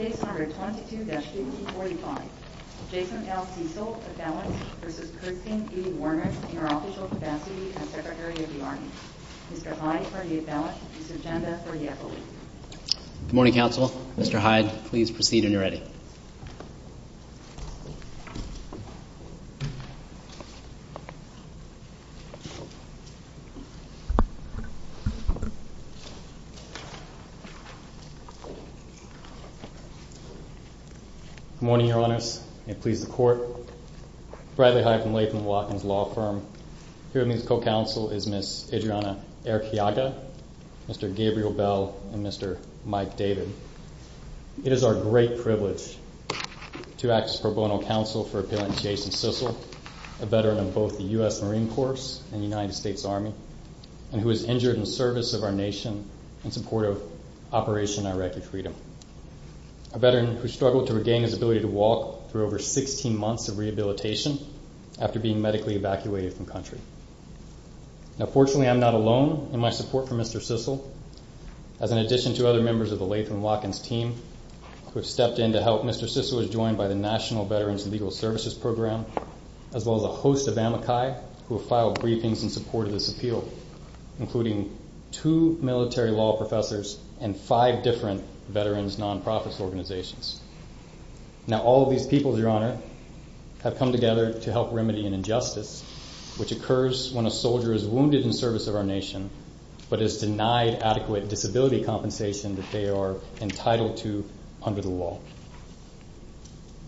in her official capacity as secretary of the army. Mr. Hyde for the appellate and Ms. Agenda for the appellate. Good morning, your honors. May it please the court. Bradley Hyde from Latham & Watkins Law Firm. Here with me as co-counsel is Ms. Adriana Erciaga, Mr. Gabriel Bell, and Mr. Mike David. It is our great privilege to act as pro bono counsel for Appellant Jason Sissel, a veteran of both the U.S. Marine Corps and the United States Army, and who was injured in the service of our nation in support of Operation Iraqi Freedom. A veteran who struggled to regain his ability to walk through over 16 months of rehabilitation after being medically evacuated from country. Now, fortunately, I'm not alone in my support for Mr. Sissel. As an addition to other members of the Latham & Watkins team who have stepped in to help, Mr. Sissel was joined by the National Veterans Legal Services Program, as well as a host of amici who have filed briefings in support of this appeal, including two military law professors and five different veterans' non-profit organizations. Now, all of these people, your honor, have come together to help remedy an injustice which occurs when a soldier is wounded in service of our nation, but is denied adequate disability compensation that they are entitled to under the law.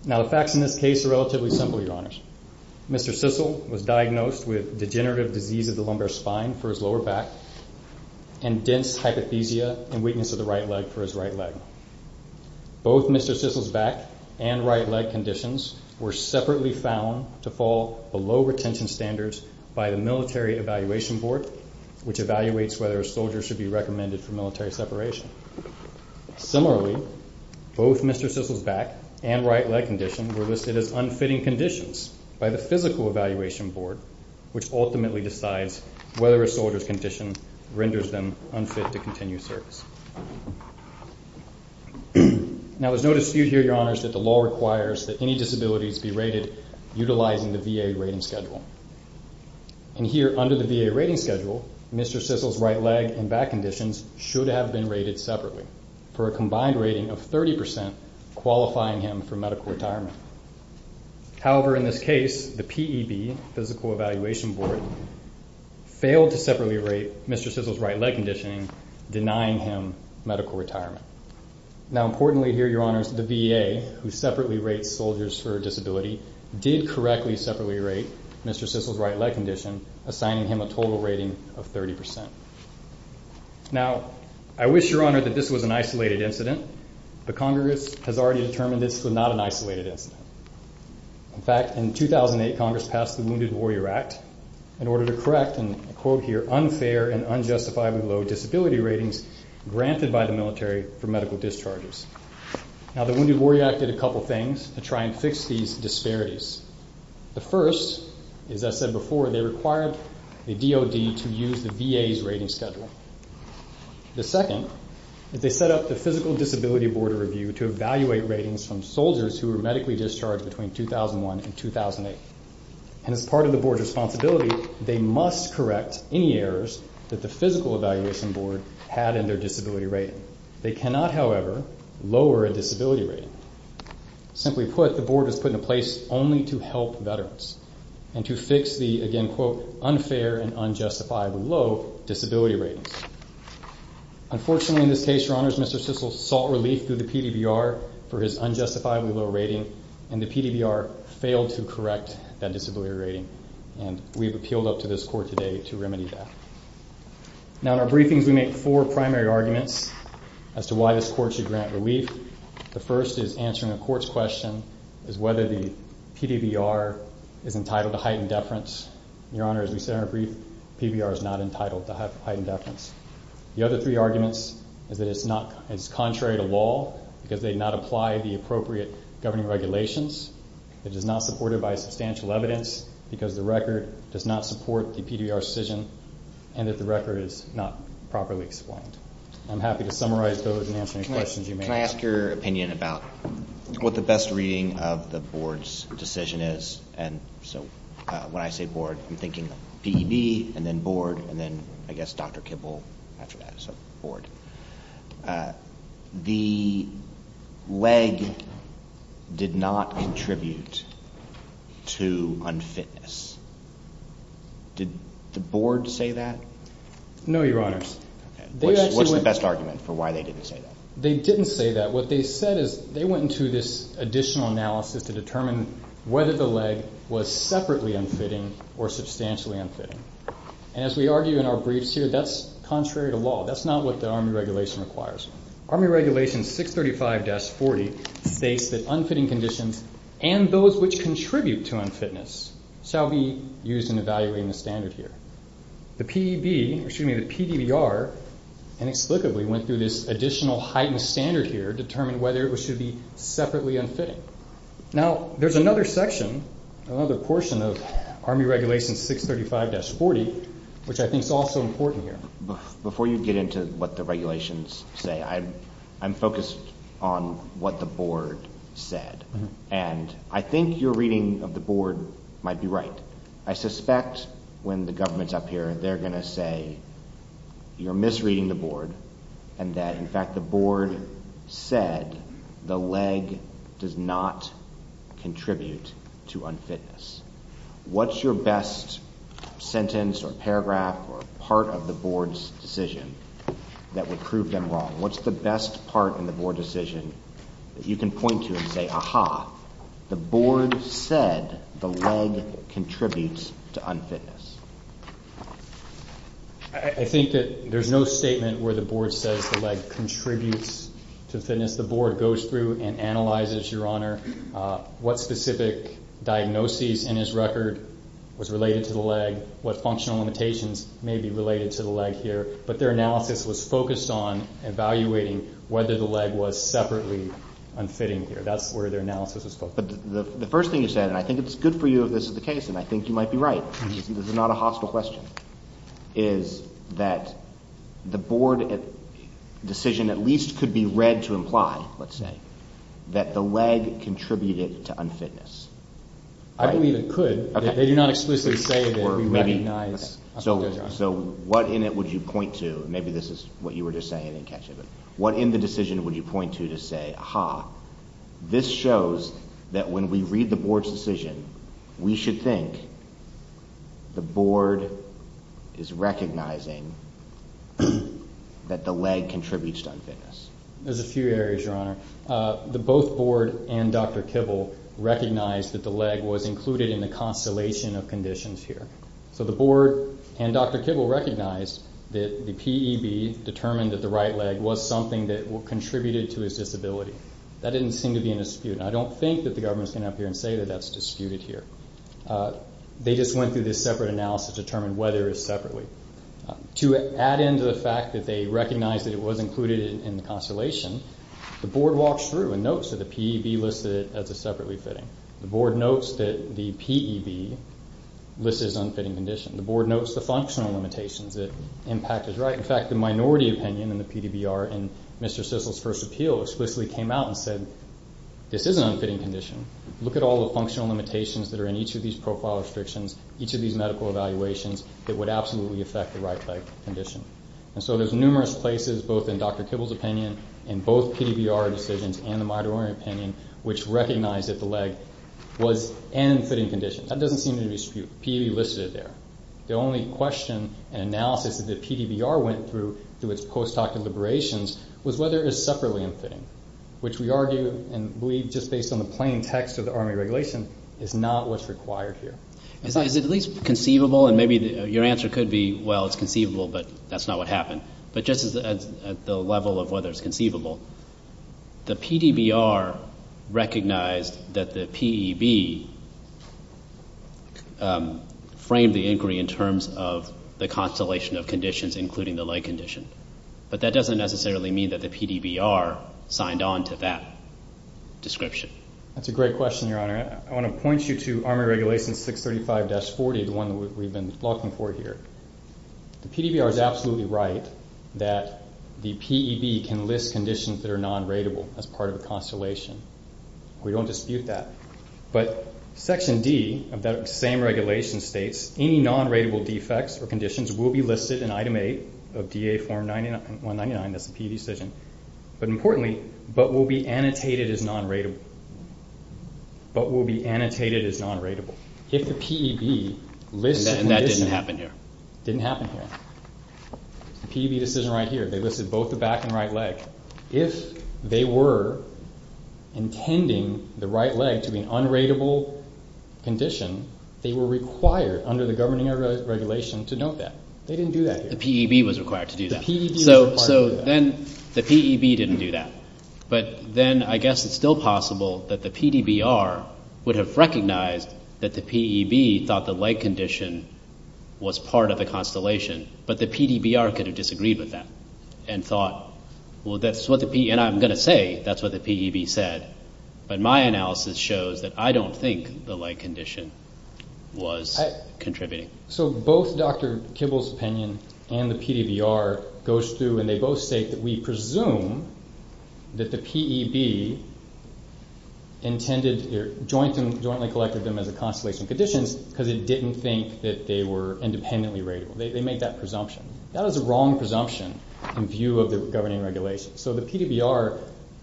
Now, the facts in this case are relatively simple, your honors. Mr. Sissel was diagnosed with degenerative disease of the lumbar spine for his lower back and dense hypothesia and weakness of the right leg for his right leg. Both Mr. Sissel's back and right leg conditions were separately found to fall below retention standards by the military evaluation board, which evaluates whether a soldier should be recommended for military separation. Similarly, both Mr. Sissel's back and right leg condition were listed as unfitting conditions by the physical evaluation board, which ultimately decides whether a soldier's condition renders them unfit to continue service. Now, there's no dispute here, your honors, that the law requires that any disabilities be rated utilizing the VA rating schedule. And here, under the VA rating schedule, Mr. Sissel's right leg and back conditions should have been rated separately for a combined rating of 30% qualifying him for medical retirement. However, in this case, the PEB, physical evaluation board, failed to separately rate Mr. Sissel's right leg conditioning, denying him medical retirement. Now, importantly here, your honors, the VA, who separately rates soldiers for a disability, did correctly separately rate Mr. Sissel's right leg condition, assigning him a total rating of 30%. Now, I wish, your honor, that this was an isolated incident, but Congress has already determined this was not an isolated incident. In fact, in 2008, Congress passed the Wounded Warrior Act in order to correct, and I quote here, unfair and unjustifiably low disability ratings granted by the military for medical discharges. Now, the Wounded Warrior Act did a couple things to try and fix these disparities. The first is, as I said before, they required the DOD to use the VA's rating schedule. The second is they set up the Physical Disability Board of Review to evaluate ratings from soldiers who were medically discharged between 2001 and 2008. And as part of the board's responsibility, they must correct any errors that the Physical Evaluation Board had in their disability rating. They cannot, however, lower a disability rating. Simply put, the board was put in a place only to help veterans and to fix the, again, quote, unfair and unjustifiably low disability ratings. Unfortunately, in this case, your honors, Mr. Sissel sought relief through the PDBR for his unjustifiably low rating, and the PDBR failed to correct that disability rating, and we have appealed up to this court today to remedy that. Now, in our briefings, we make four primary arguments as to why this court should grant relief. The first is answering a court's question as whether the PDBR is entitled to heightened deference. Your honor, as we said in our brief, PDBR is not entitled to heightened deference. The other three arguments is that it's contrary to law because they did not apply the appropriate governing regulations. It is not supported by substantial evidence because the record does not support the PDBR's decision and that the record is not properly explained. I'm happy to summarize those and answer any questions you may have. Can I ask your opinion about what the best reading of the board's decision is? And so when I say board, I'm thinking PED and then board and then, I guess, Dr. Kibble after that, so board. The leg did not contribute to unfitness. Did the board say that? No, your honors. What's the best argument for why they didn't say that? They didn't say that. What they said is they went into this additional analysis to determine whether the leg was separately unfitting or substantially unfitting. And as we argue in our briefs here, that's contrary to law. That's not what the Army Regulation requires. Army Regulation 635-40 states that unfitting conditions and those which contribute to unfitness shall be used in evaluating the standard here. The PDBR inexplicably went through this additional heightened standard here to determine whether it should be separately unfitting. Now, there's another section, another portion of Army Regulation 635-40, which I think is also important here. Before you get into what the regulations say, I'm focused on what the board said. And I think your reading of the board might be right. I suspect when the government's up here, they're going to say you're misreading the board and that, in fact, the board said the leg does not contribute to unfitness. What's your best sentence or paragraph or part of the board's decision that would prove them wrong? What's the best part in the board decision that you can point to and say, aha, the board said the leg contributes to unfitness? I think that there's no statement where the board says the leg contributes to unfitness. The board goes through and analyzes, Your Honor, what specific diagnoses in his record was related to the leg, what functional limitations may be related to the leg here. But their analysis was focused on evaluating whether the leg was separately unfitting here. That's where their analysis was focused. But the first thing you said, and I think it's good for you if this is the case, and I think you might be right, because this is not a hostile question, is that the board decision at least could be read to imply, let's say, that the leg contributed to unfitness. I believe it could. They do not explicitly say that we recognize. So what in it would you point to? Maybe this is what you were just saying in catch of it. What in the decision would you point to to say, aha, this shows that when we read the board's decision, we should think the board is recognizing that the leg contributes to unfitness. There's a few areas, Your Honor. Both board and Dr. Kibble recognized that the leg was included in the constellation of conditions here. So the board and Dr. Kibble recognized that the PEB determined that the right leg was something that contributed to his disability. That didn't seem to be in dispute, and I don't think that the government is going to come up here and say that that's disputed here. They just went through this separate analysis to determine whether it was separately. To add into the fact that they recognized that it was included in the constellation, the board walks through and notes that the PEB listed it as a separately fitting. The board notes that the PEB listed it as an unfitting condition. The board notes the functional limitations, that impact is right. In fact, the minority opinion in the PDBR in Mr. Sissel's first appeal explicitly came out and said, this is an unfitting condition. Look at all the functional limitations that are in each of these profile restrictions, each of these medical evaluations, that would absolutely affect the right leg condition. And so there's numerous places, both in Dr. Kibble's opinion and both PDBR decisions and the minority opinion, which recognize that the leg was an unfitting condition. That doesn't seem to be disputed. PEB listed it there. The only question and analysis that the PDBR went through, through its post-hoc deliberations, was whether it was separately unfitting, which we argue and believe, just based on the plain text of the Army regulation, is not what's required here. Is it at least conceivable? And maybe your answer could be, well, it's conceivable, but that's not what happened. But just at the level of whether it's conceivable, the PDBR recognized that the PEB framed the inquiry in terms of the constellation of conditions, including the leg condition. But that doesn't necessarily mean that the PDBR signed on to that description. That's a great question, Your Honor. I want to point you to Army regulation 635-40, the one that we've been looking for here. The PDBR is absolutely right that the PEB can list conditions that are non-ratable as part of a constellation. We don't dispute that. But Section D of that same regulation states, any non-ratable defects or conditions will be listed in Item 8 of DA Form 199. That's the PE decision. But importantly, but will be annotated as non-ratable. But will be annotated as non-ratable. And that didn't happen here. Didn't happen here. The PEB decision right here, they listed both the back and right leg. If they were intending the right leg to be an un-ratable condition, they were required under the governing regulation to note that. They didn't do that here. The PEB was required to do that. So then the PEB didn't do that. But then I guess it's still possible that the PDBR would have recognized that the PEB thought the leg condition was part of the constellation, but the PDBR could have disagreed with that and thought, well, that's what the PEB, and I'm going to say that's what the PEB said. But my analysis shows that I don't think the leg condition was contributing. So both Dr. Kibble's opinion and the PDBR goes through, and they both state that we presume that the PEB intended or jointly collected them as a constellation of conditions because it didn't think that they were independently ratable. They made that presumption. That was a wrong presumption in view of the governing regulation. So the PDBR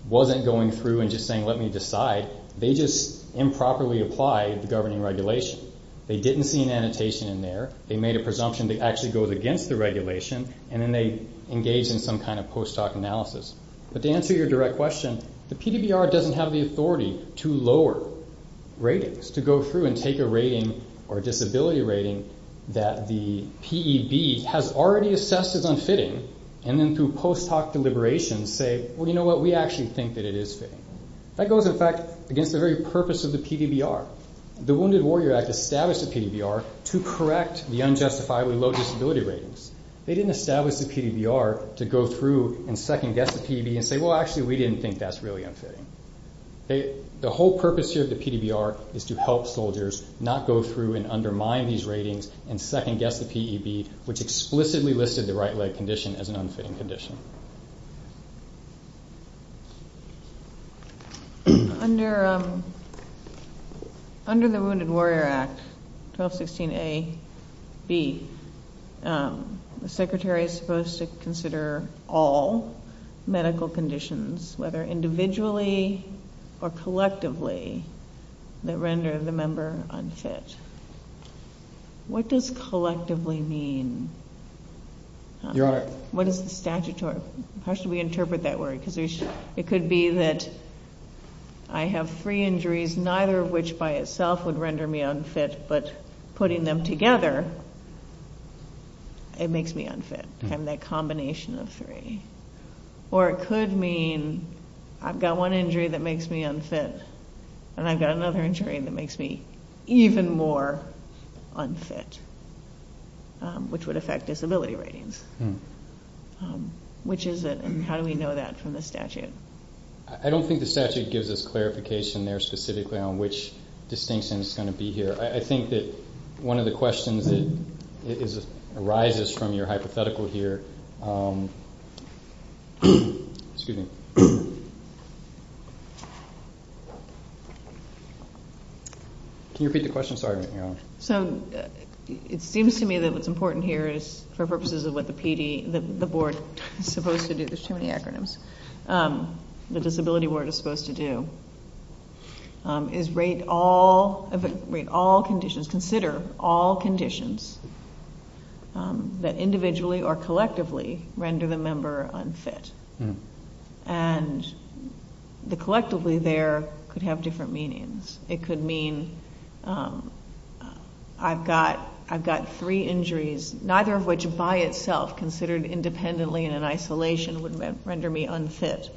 wasn't going through and just saying, let me decide. They just improperly applied the governing regulation. They didn't see an annotation in there. They made a presumption that actually goes against the regulation, and then they engaged in some kind of post-hoc analysis. But to answer your direct question, the PDBR doesn't have the authority to lower ratings, to go through and take a rating or a disability rating that the PEB has already assessed as unfitting and then through post-hoc deliberations say, well, you know what, we actually think that it is fitting. That goes, in fact, against the very purpose of the PDBR. The Wounded Warrior Act established the PDBR to correct the unjustifiably low disability ratings. They didn't establish the PDBR to go through and second-guess the PEB and say, well, actually, we didn't think that's really unfitting. The whole purpose here of the PDBR is to help soldiers not go through and undermine these ratings and second-guess the PEB, which explicitly listed the right leg condition as an unfitting condition. Under the Wounded Warrior Act, 1216A-B, the secretary is supposed to consider all medical conditions, whether individually or collectively, that render the member unfit. What does collectively mean? Your Honor. What is the statutory? How should we interpret that word? It could be that I have three injuries, neither of which by itself would render me unfit, but putting them together, it makes me unfit, having that combination of three. Or it could mean I've got one injury that makes me unfit and I've got another injury that makes me even more unfit, which would affect disability ratings. How do we know that from the statute? I don't think the statute gives us clarification there specifically on which distinction is going to be here. I think that one of the questions that arises from your hypothetical here Excuse me. Can you repeat the question? Sorry, Your Honor. It seems to me that what's important here is, for purposes of what the PD, the board, is supposed to do. There's too many acronyms. What the Disability Board is supposed to do is rate all conditions, consider all conditions that individually or collectively render the member unfit. And the collectively there could have different meanings. It could mean I've got three injuries, neither of which by itself considered independently in an isolation would render me unfit,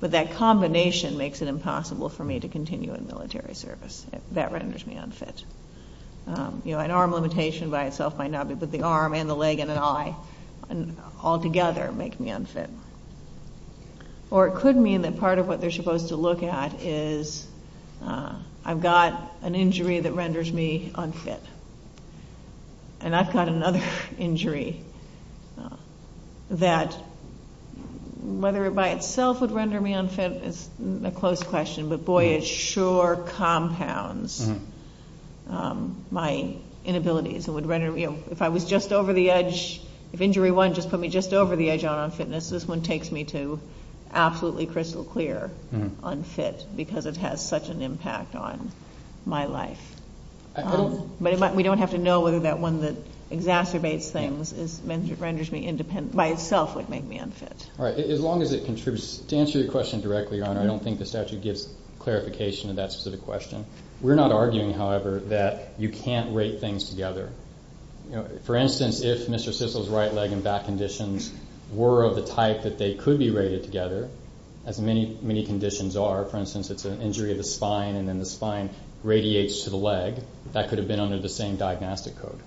but that combination makes it impossible for me to continue in military service. That renders me unfit. An arm limitation by itself might not be, but the arm and the leg and an eye altogether make me unfit. Or it could mean that part of what they're supposed to look at is I've got an injury that renders me unfit, and I've got another injury that, whether it by itself would render me unfit is a close question, but, boy, it sure compounds my inabilities. If I was just over the edge, if injury one just put me just over the edge on unfitness, this one takes me to absolutely crystal clear unfit because it has such an impact on my life. But we don't have to know whether that one that exacerbates things renders me independent by itself would make me unfit. As long as it contributes to answer your question directly, Your Honor, I don't think the statute gives clarification to that specific question. We're not arguing, however, that you can't rate things together. For instance, if Mr. Sissel's right leg and back conditions were of the type that they could be rated together, as many conditions are, for instance, it's an injury of the spine, and then the spine radiates to the leg, that could have been under the same diagnostic code.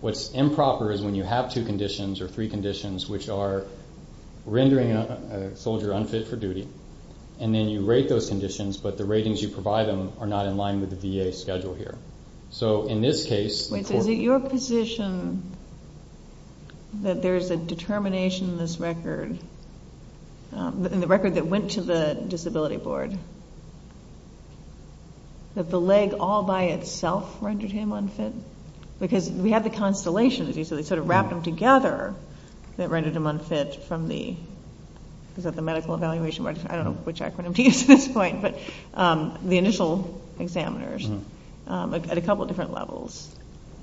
What's improper is when you have two conditions or three conditions which are rendering a soldier unfit for duty, and then you rate those conditions, but the ratings you provide them are not in line with the VA schedule here. So in this case... Wait, so is it your position that there is a determination in this record, in the record that went to the disability board, that the leg all by itself rendered him unfit? Because we have the constellation, as you said, where they sort of wrapped them together that rendered him unfit from the... Is that the medical evaluation? I don't know which acronym to use at this point. But the initial examiners, at a couple of different levels,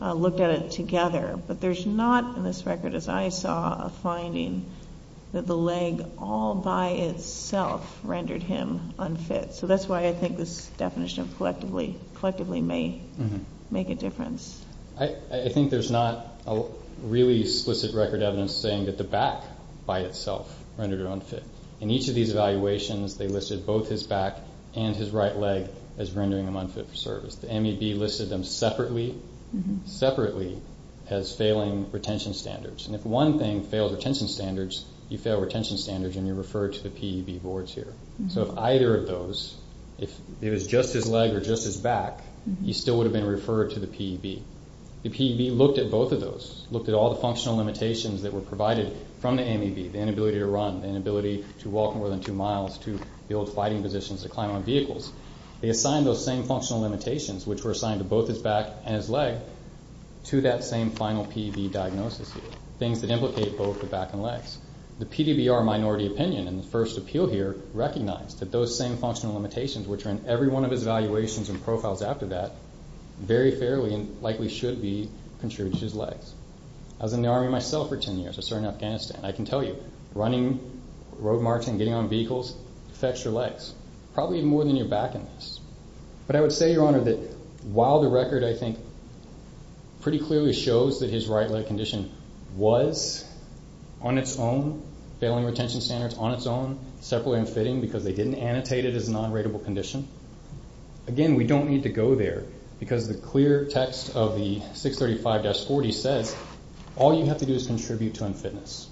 looked at it together. But there's not in this record, as I saw, a finding that the leg all by itself rendered him unfit. So that's why I think this definition collectively may make a difference. I think there's not really explicit record evidence saying that the back by itself rendered him unfit. In each of these evaluations, they listed both his back and his right leg as rendering him unfit for service. The MEB listed them separately as failing retention standards. And if one thing failed retention standards, you fail retention standards, and you're referred to the PEB boards here. So if either of those, if it was just his leg or just his back, he still would have been referred to the PEB. The PEB looked at both of those, looked at all the functional limitations that were provided from the MEB, the inability to run, the inability to walk more than two miles, to build fighting positions, to climb on vehicles. They assigned those same functional limitations, which were assigned to both his back and his leg, to that same final PEB diagnosis here, things that implicate both the back and legs. The PDBR minority opinion in the first appeal here recognized that those same functional limitations, which are in every one of his evaluations and profiles after that, very fairly and likely should be contributed to his legs. I was in the Army myself for 10 years. I served in Afghanistan. I can tell you, running, road marching, getting on vehicles affects your legs, probably more than your back in this. But I would say, Your Honor, that while the record, I think, pretty clearly shows that his right leg condition was, on its own, failing retention standards on its own, separately unfitting because they didn't annotate it as a non-rateable condition. Again, we don't need to go there, because the clear text of the 635-40 says, all you have to do is contribute to unfitness.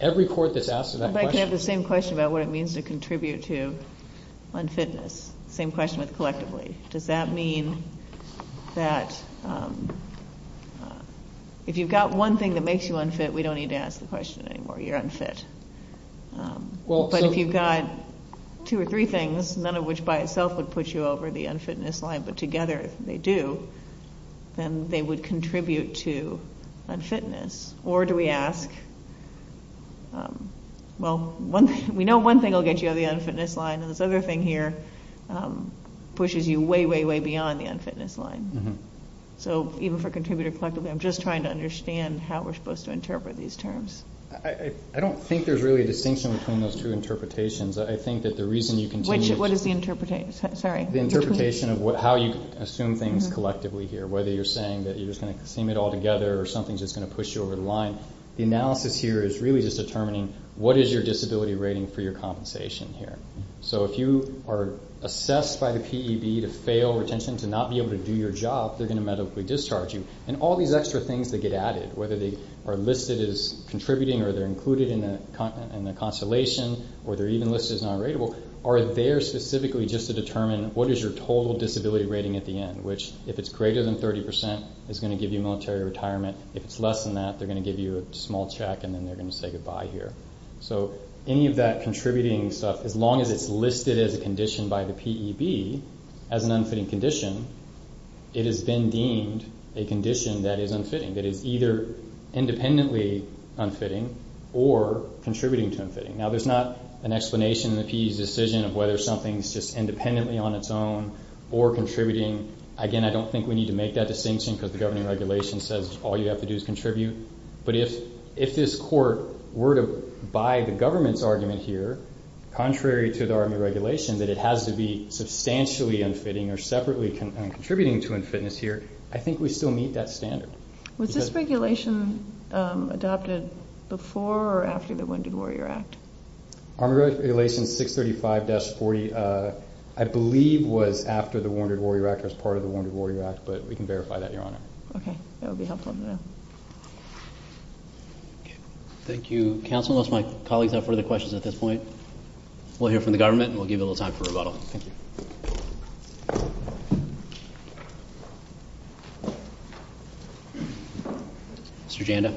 Every court that's asked that question— I'd like to have the same question about what it means to contribute to unfitness. Same question with collectively. Does that mean that if you've got one thing that makes you unfit, we don't need to ask the question anymore. You're unfit. But if you've got two or three things, none of which by itself would put you over the unfitness line, but together they do, then they would contribute to unfitness. Or do we ask, well, we know one thing will get you over the unfitness line, and this other thing here pushes you way, way, way beyond the unfitness line. So even for contributor collectively, I'm just trying to understand how we're supposed to interpret these terms. I don't think there's really a distinction between those two interpretations. I think that the reason you continue to— What is the interpretation? Sorry. The interpretation of how you assume things collectively here, whether you're saying that you're just going to assume it all together or something's just going to push you over the line. The analysis here is really just determining what is your disability rating for your compensation here. So if you are assessed by the PEB to fail retention, to not be able to do your job, they're going to medically discharge you. And all these extra things that get added, whether they are listed as contributing or they're included in the constellation or they're even listed as non-ratable, are there specifically just to determine what is your total disability rating at the end, which if it's greater than 30% is going to give you military retirement. If it's less than that, they're going to give you a small check, and then they're going to say goodbye here. So any of that contributing stuff, as long as it's listed as a condition by the PEB, as an unfitting condition, it has been deemed a condition that is unfitting, that is either independently unfitting or contributing to unfitting. Now there's not an explanation in the PEB's decision of whether something is just independently on its own or contributing. Again, I don't think we need to make that distinction because the governing regulation says all you have to do is contribute. But if this court were to buy the government's argument here, contrary to the Army regulation, that it has to be substantially unfitting or separately contributing to unfitness here, I think we still meet that standard. Was this regulation adopted before or after the Wounded Warrior Act? Army regulation 635-40, I believe, was after the Wounded Warrior Act or as part of the Wounded Warrior Act, but we can verify that, Your Honor. Okay. That would be helpful to know. Thank you, counsel. Unless my colleagues have further questions at this point, we'll hear from the government and we'll give you a little time for rebuttal. Thank you. Mr. Janda.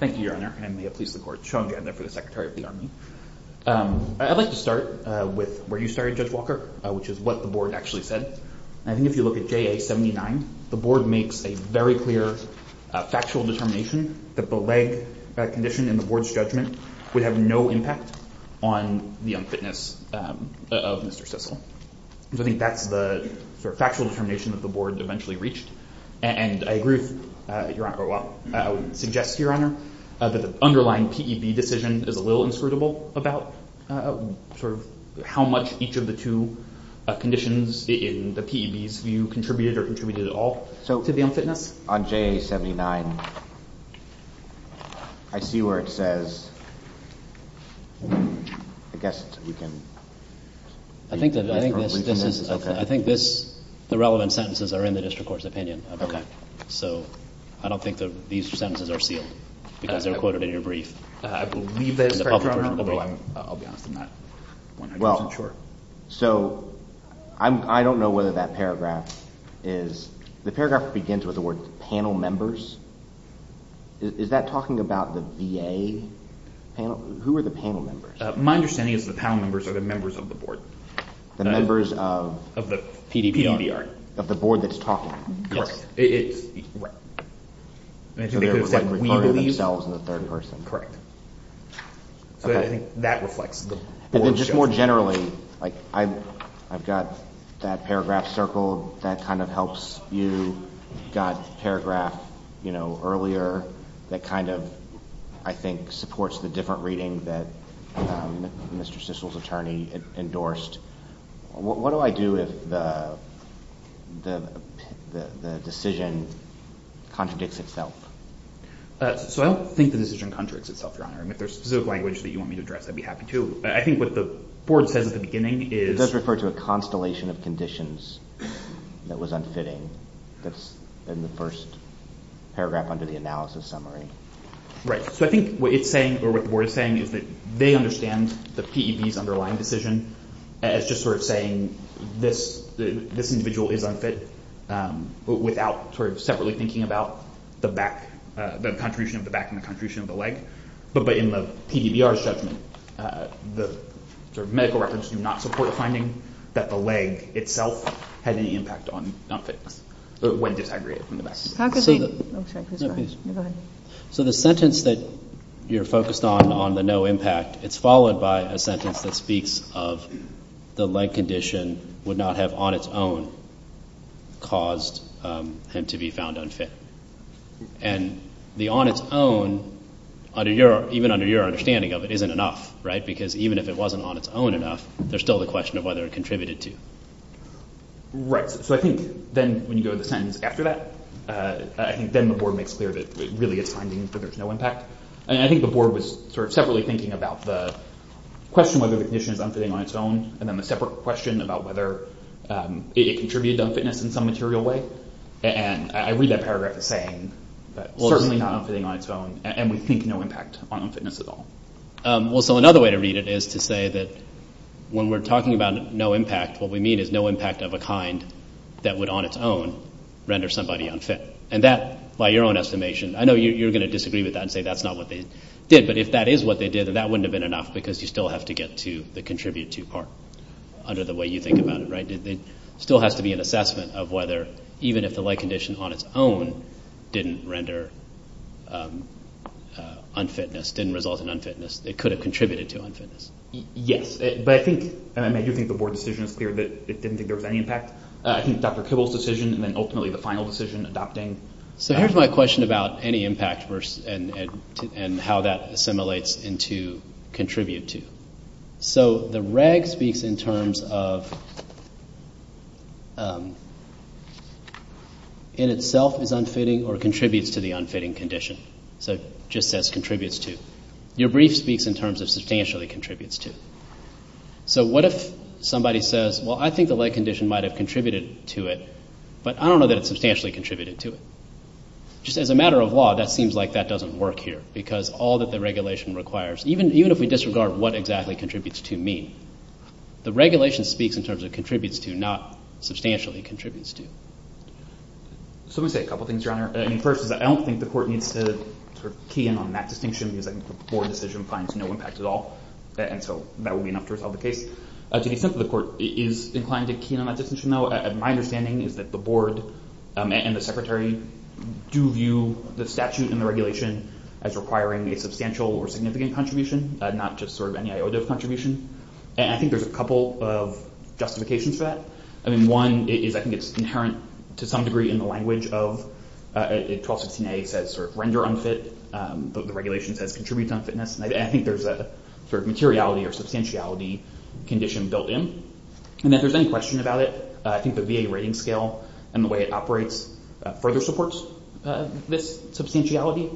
Thank you, Your Honor, and may it please the Court. Sean Janda for the Secretary of the Army. I'd like to start with where you started, Judge Walker, which is what the Board actually said. I think if you look at JA-79, the Board makes a very clear factual determination that the leg condition in the Board's judgment would have no impact on the unfitness of Mr. Sissel. I think that's the sort of factual determination that the Board eventually reached. And I would suggest, Your Honor, that the underlying P.E.B. decision is a little inscrutable about how much each of the two conditions in the P.E.B.'s view contributed or contributed at all to the unfitness. On JA-79, I see where it says, I guess we can... I think the relevant sentences are in the district court's opinion. Okay. So I don't think that these sentences are sealed because they're quoted in your brief. I believe they're in the public version of the brief. I'll be honest, I'm not 100% sure. Well, so I don't know whether that paragraph is... The paragraph begins with the word panel members. Is that talking about the VA panel? Who are the panel members? My understanding is the panel members are the members of the Board. The members of P.D.B.R.? Yes. Right. So they're referring to themselves in the third person. Correct. So I think that reflects the Board's judgment. And then just more generally, I've got that paragraph circled. That kind of helps you. You've got the paragraph earlier that kind of, I think, supports the different reading that Mr. Stischel's attorney endorsed. What do I do if the decision contradicts itself? So I don't think the decision contradicts itself, Your Honor. If there's specific language that you want me to address, I'd be happy to. I think what the Board says at the beginning is... It does refer to a constellation of conditions that was unfitting. That's in the first paragraph under the analysis summary. Right. So I think what it's saying, or what the Board is saying, is that they understand the P.E.B.'s underlying decision as just sort of saying this individual is unfit, without sort of separately thinking about the contribution of the back and the contribution of the leg. But in the P.D.B.R.'s judgment, the medical records do not support the finding that the leg itself had any impact on unfitness when disaggregated from the back. How could they? I'm sorry. Go ahead. So the sentence that you're focused on, on the no impact, it's followed by a sentence that speaks of the leg condition would not have on its own caused him to be found unfit. And the on its own, even under your understanding of it, isn't enough, right? Because even if it wasn't on its own enough, there's still the question of whether it contributed to. Right. So I think then when you go to the sentence after that, I think then the board makes clear that really it's finding that there's no impact. And I think the board was sort of separately thinking about the question whether the condition is unfitting on its own and then the separate question about whether it contributed to unfitness in some material way. And I read that paragraph as saying certainly not unfitting on its own, and we think no impact on unfitness at all. Well, so another way to read it is to say that when we're talking about no impact, what we mean is no impact of a kind that would on its own render somebody unfit. And that, by your own estimation, I know you're going to disagree with that and say that's not what they did. But if that is what they did, then that wouldn't have been enough because you still have to get to the contribute to part under the way you think about it, right? There still has to be an assessment of whether even if the leg condition on its own didn't render unfitness, didn't result in unfitness, it could have contributed to unfitness. Yes. But I think, and I mean I do think the board decision is clear that it didn't think there was any impact. I think Dr. Kibble's decision and then ultimately the final decision adopting. So here's my question about any impact and how that assimilates into contribute to. So the reg speaks in terms of in itself is unfitting or contributes to the unfitting condition. So it just says contributes to. Your brief speaks in terms of substantially contributes to. So what if somebody says, well, I think the leg condition might have contributed to it, but I don't know that it substantially contributed to it. Just as a matter of law, that seems like that doesn't work here because all that the regulation requires, even if we disregard what exactly contributes to mean, the regulation speaks in terms of contributes to, not substantially contributes to. So let me say a couple things, Your Honor. First is that I don't think the court needs to key in on that distinction because I think the board decision finds no impact at all. And so that would be enough to resolve the case. To the extent that the court is inclined to key in on that distinction, though, my understanding is that the board and the secretary do view the statute and the regulation as requiring a substantial or significant contribution, not just sort of any iota of contribution. And I think there's a couple of justifications to that. I mean, one is I think it's inherent to some degree in the language of 1216a says sort of render unfit. The regulation says contributes unfitness. And I think there's a sort of materiality or substantiality condition built in. And if there's any question about it, I think the VA rating scale and the way it operates further supports this substantiality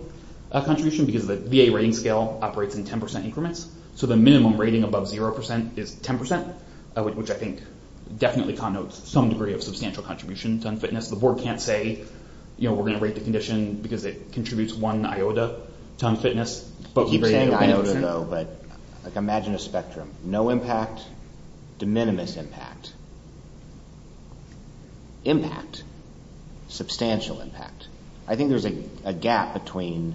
contribution because the VA rating scale operates in 10% increments. So the minimum rating above 0% is 10%, which I think definitely connotes some degree of substantial contribution to unfitness. The board can't say, you know, we're going to rate the condition because it contributes one iota to unfitness. I keep saying iota, though, but imagine a spectrum. No impact, de minimis impact. Impact, substantial impact. I think there's a gap between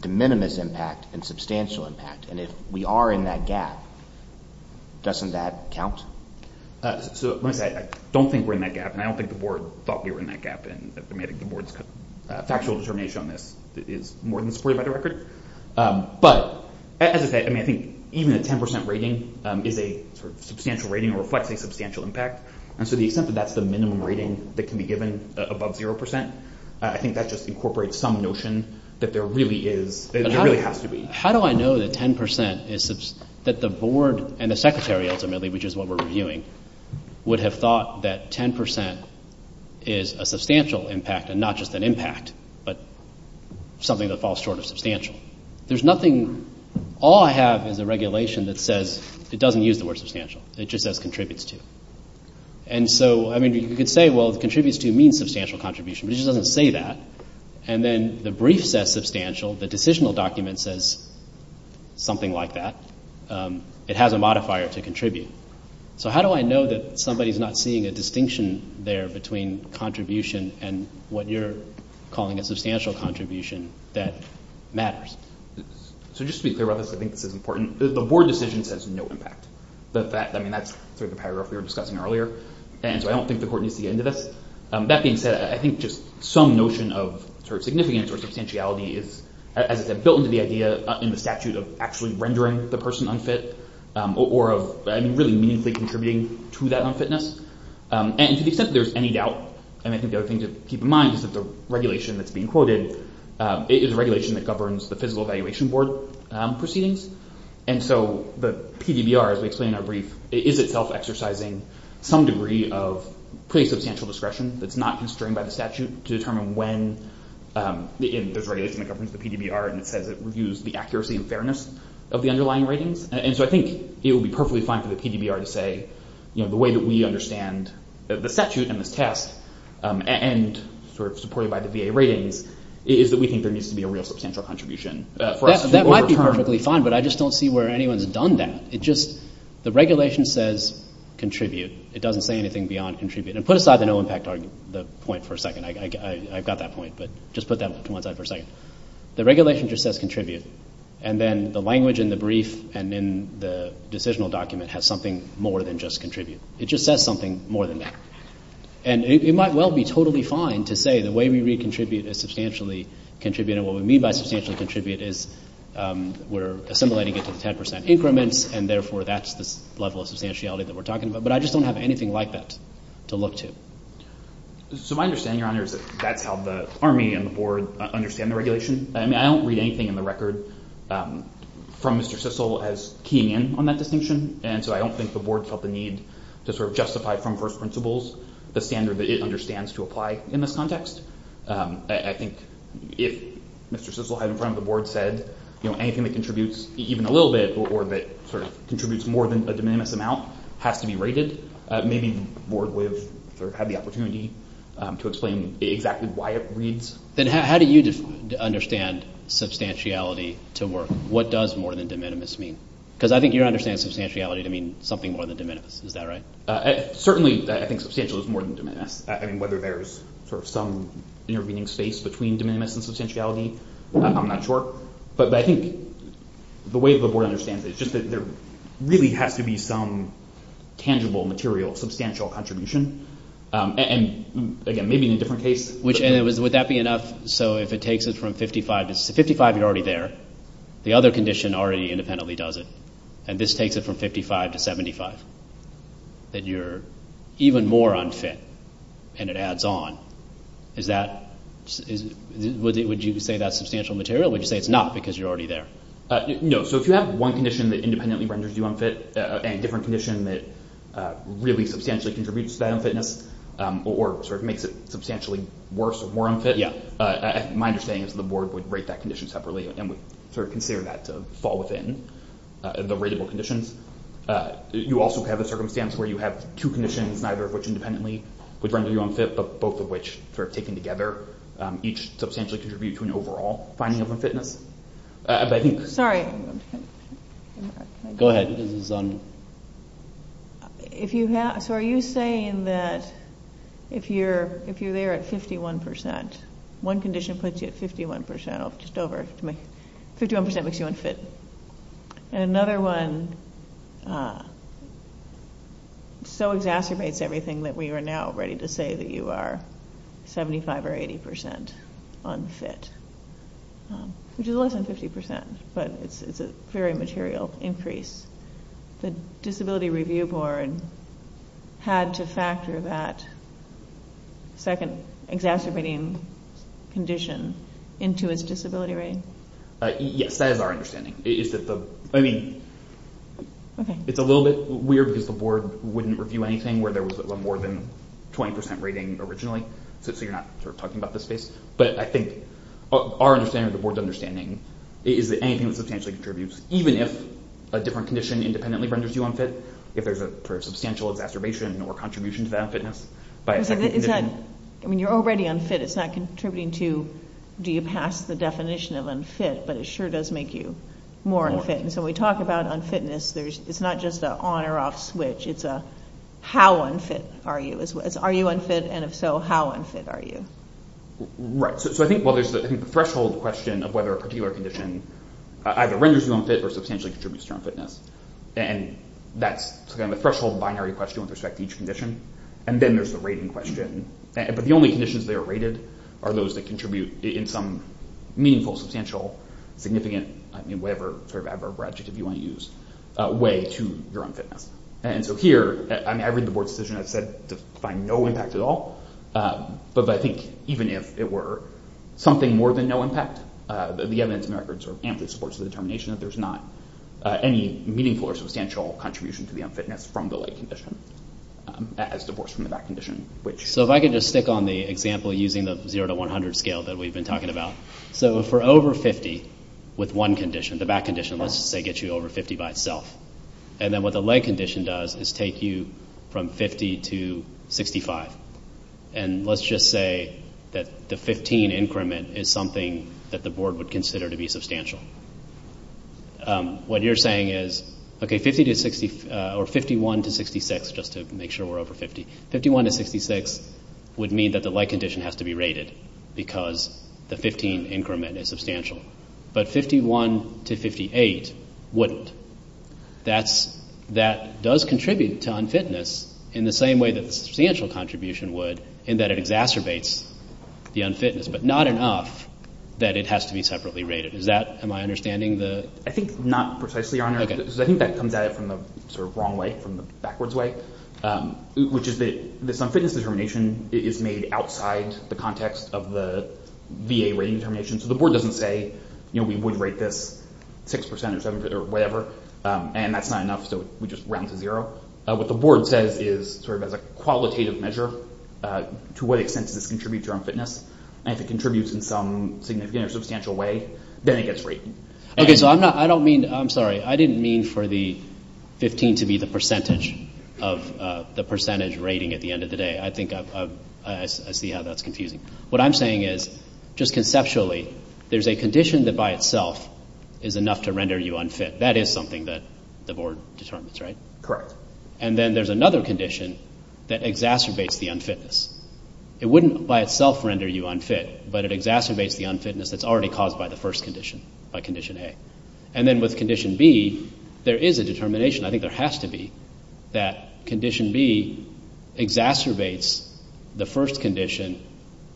de minimis impact and substantial impact. And if we are in that gap, doesn't that count? So let me say, I don't think we're in that gap, and I think the board's factual determination on this is more than supported by the record. But as I say, I mean, I think even a 10% rating is a sort of substantial rating or reflects a substantial impact. And so the extent that that's the minimum rating that can be given above 0%, I think that just incorporates some notion that there really is, there really has to be. How do I know that 10% is, that the board and the secretary ultimately, which is what we're reviewing, would have thought that 10% is a substantial impact and not just an impact, but something that falls short of substantial? There's nothing, all I have is a regulation that says, it doesn't use the word substantial. It just says contributes to. And so, I mean, you could say, well, contributes to means substantial contribution, but it just doesn't say that. And then the brief says substantial, the decisional document says something like that. It has a modifier to contribute. So how do I know that somebody's not seeing a distinction there between contribution and what you're calling a substantial contribution that matters? So just to be clear about this, I think this is important. The board decision says no impact. I mean, that's sort of the paragraph we were discussing earlier. And so I don't think the court needs to get into this. That being said, I think just some notion of sort of significance or substantiality is, as I said, built into the idea in the statute of actually rendering the person unfit or of really meaningfully contributing to that unfitness. And to the extent that there's any doubt, and I think the other thing to keep in mind is that the regulation that's being quoted is a regulation that governs the physical evaluation board proceedings. And so the PDBR, as we explained in our brief, is itself exercising some degree of pretty substantial discretion that's not constrained by the statute to determine when there's a regulation that governs the PDBR and it says it reviews the accuracy and fairness of the underlying ratings. And so I think it would be perfectly fine for the PDBR to say, you know, the way that we understand the statute and this test and sort of supported by the VA ratings is that we think there needs to be a real substantial contribution for us to overturn. That might be perfectly fine, but I just don't see where anyone's done that. It just, the regulation says contribute. It doesn't say anything beyond contribute. And put aside the no impact point for a second. I've got that point, but just put that to one side for a second. The regulation just says contribute. And then the language in the brief and in the decisional document has something more than just contribute. It just says something more than that. And it might well be totally fine to say the way we read contribute is substantially contribute, and what we mean by substantially contribute is we're assimilating it to the 10 percent increments, and therefore that's the level of substantiality that we're talking about. But I just don't have anything like that to look to. So my understanding, Your Honor, is that that's how the Army and the Board understand the regulation. I mean, I don't read anything in the record from Mr. Sissel as keying in on that distinction, and so I don't think the Board felt the need to sort of justify from first principles the standard that it understands to apply in this context. I think if Mr. Sissel had in front of the Board said, you know, anything that contributes even a little bit or that sort of contributes more than a de minimis amount has to be rated, maybe the Board would have had the opportunity to explain exactly why it reads. Then how do you understand substantiality to work? What does more than de minimis mean? Because I think you don't understand substantiality to mean something more than de minimis. Is that right? Certainly I think substantial is more than de minimis. I mean, whether there's sort of some intervening space between de minimis and substantiality, I'm not sure. But I think the way the Board understands it is just that there really has to be some tangible material, substantial contribution, and again, maybe in a different case. Would that be enough? So if it takes it from 55 to 75, you're already there. The other condition already independently does it, and this takes it from 55 to 75, that you're even more unfit, and it adds on. Would you say that's substantial material? Would you say it's not because you're already there? No. So if you have one condition that independently renders you unfit and a different condition that really substantially contributes to that unfitness or sort of makes it substantially worse or more unfit, my understanding is that the Board would rate that condition separately and would sort of consider that to fall within the rateable conditions. You also have a circumstance where you have two conditions, neither of which independently would render you unfit, but both of which, sort of taken together, each substantially contribute to an overall finding of unfitness. Sorry. Go ahead. So are you saying that if you're there at 51 percent, one condition puts you at 51 percent, 51 percent makes you unfit, and another one so exacerbates everything that we are now ready to say that you are 75 or 80 percent unfit? Which is less than 50 percent, but it's a very material increase. The Disability Review Board had to factor that second exacerbating condition into its disability rating? Yes, that is our understanding. I mean, it's a little bit weird because the Board wouldn't review anything where there was a more than 20 percent rating originally, so you're not sort of talking about this space. But I think our understanding or the Board's understanding is that anything that substantially contributes, even if a different condition independently renders you unfit, if there's a substantial exacerbation or contribution to that unfitness, by a second condition. I mean, you're already unfit. It's not contributing to do you pass the definition of unfit, but it sure does make you more unfit. And so when we talk about unfitness, it's not just an on or off switch. It's a how unfit are you? It's are you unfit, and if so, how unfit are you? Right, so I think there's the threshold question of whether a particular condition either renders you unfit or substantially contributes to your unfitness. And that's the threshold binary question with respect to each condition. And then there's the rating question. But the only conditions that are rated are those that contribute in some meaningful, substantial, significant, whatever adjective you want to use, way to your unfitness. And so here, I mean, I read the Board's decision. It said to find no impact at all. But I think even if it were something more than no impact, the evidence in the record sort of amply supports the determination that there's not any meaningful or substantial contribution to the unfitness from the leg condition as divorced from the back condition. So if I could just stick on the example using the 0 to 100 scale that we've been talking about. So if we're over 50 with one condition, the back condition, let's just say gets you over 50 by itself. And then what the leg condition does is take you from 50 to 65. And let's just say that the 15 increment is something that the Board would consider to be substantial. What you're saying is, okay, 51 to 66, just to make sure we're over 50, 51 to 66 would mean that the leg condition has to be rated because the 15 increment is substantial. But 51 to 58 wouldn't. That does contribute to unfitness in the same way that the substantial contribution would in that it exacerbates the unfitness, but not enough that it has to be separately rated. Am I understanding the— I think not precisely, Your Honor, because I think that comes at it from the sort of wrong way, from the backwards way, which is that this unfitness determination is made outside the context of the VA rating determination. So the Board doesn't say, you know, we would rate this 6% or 7% or whatever, and that's not enough, so we just round to zero. What the Board says is, sort of as a qualitative measure, to what extent does this contribute to unfitness? And if it contributes in some significant or substantial way, then it gets rated. Okay, so I don't mean—I'm sorry. I didn't mean for the 15 to be the percentage rating at the end of the day. I think I see how that's confusing. What I'm saying is, just conceptually, there's a condition that by itself is enough to render you unfit. That is something that the Board determines, right? Correct. And then there's another condition that exacerbates the unfitness. It wouldn't by itself render you unfit, but it exacerbates the unfitness that's already caused by the first condition, by Condition A. And then with Condition B, there is a determination, I think there has to be, that Condition B exacerbates the first condition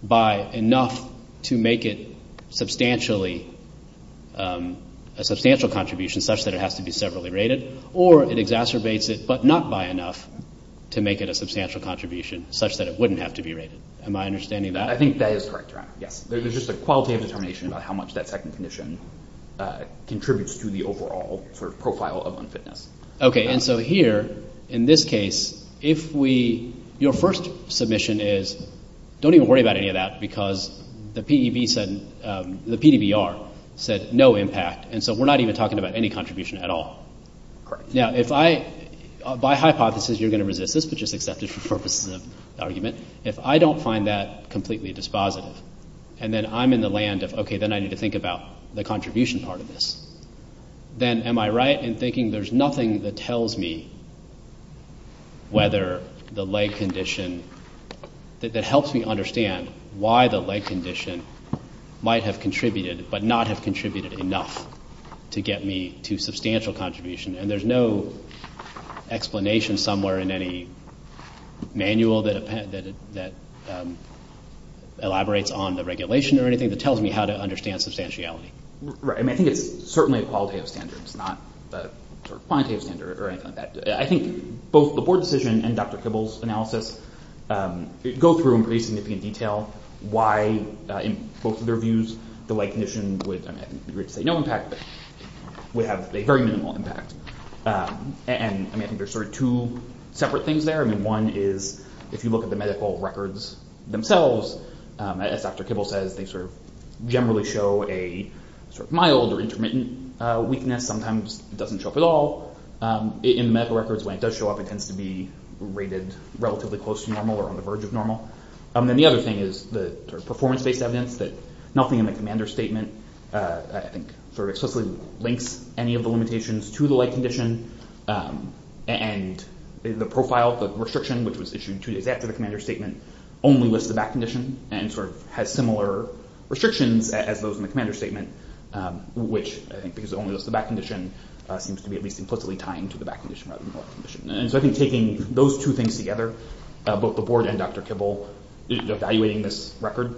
by enough to make it substantially, a substantial contribution such that it has to be severally rated, or it exacerbates it but not by enough to make it a substantial contribution such that it wouldn't have to be rated. Am I understanding that? I think that is correct, Ron. Yes. There's just a quality of determination about how much that second condition contributes to the overall sort of profile of unfitness. Okay. And so here, in this case, if we—your first submission is, don't even worry about any of that because the PDBR said no impact, and so we're not even talking about any contribution at all. Correct. Now, if I—by hypothesis, you're going to resist this, but just accept it for purposes of argument. If I don't find that completely dispositive and then I'm in the land of, okay, then I need to think about the contribution part of this, then am I right in thinking there's nothing that tells me whether the leg condition, that helps me understand why the leg condition might have contributed but not have contributed enough to get me to substantial contribution? And there's no explanation somewhere in any manual that elaborates on the regulation or anything that tells me how to understand substantiality. Right. I mean, I think it's certainly a qualitative standard. It's not a quantitative standard or anything like that. I think both the board decision and Dr. Kibble's analysis go through in pretty significant detail why, in both of their views, the leg condition would—I think it would be weird to say no impact, but would have a very minimal impact. And, I mean, I think there's sort of two separate things there. I mean, one is if you look at the medical records themselves, as Dr. Kibble says, they sort of generally show a sort of mild or intermittent weakness. Sometimes it doesn't show up at all. In the medical records, when it does show up, it tends to be rated relatively close to normal or on the verge of normal. Then the other thing is the sort of performance-based evidence that nothing in the commander's statement, I think, sort of explicitly links any of the limitations to the leg condition. And the profile, the restriction, which was issued two days after the commander's statement, only lists the back condition and sort of has similar restrictions as those in the commander's statement, which, I think, And so I think taking those two things together, both the board and Dr. Kibble, evaluating this record,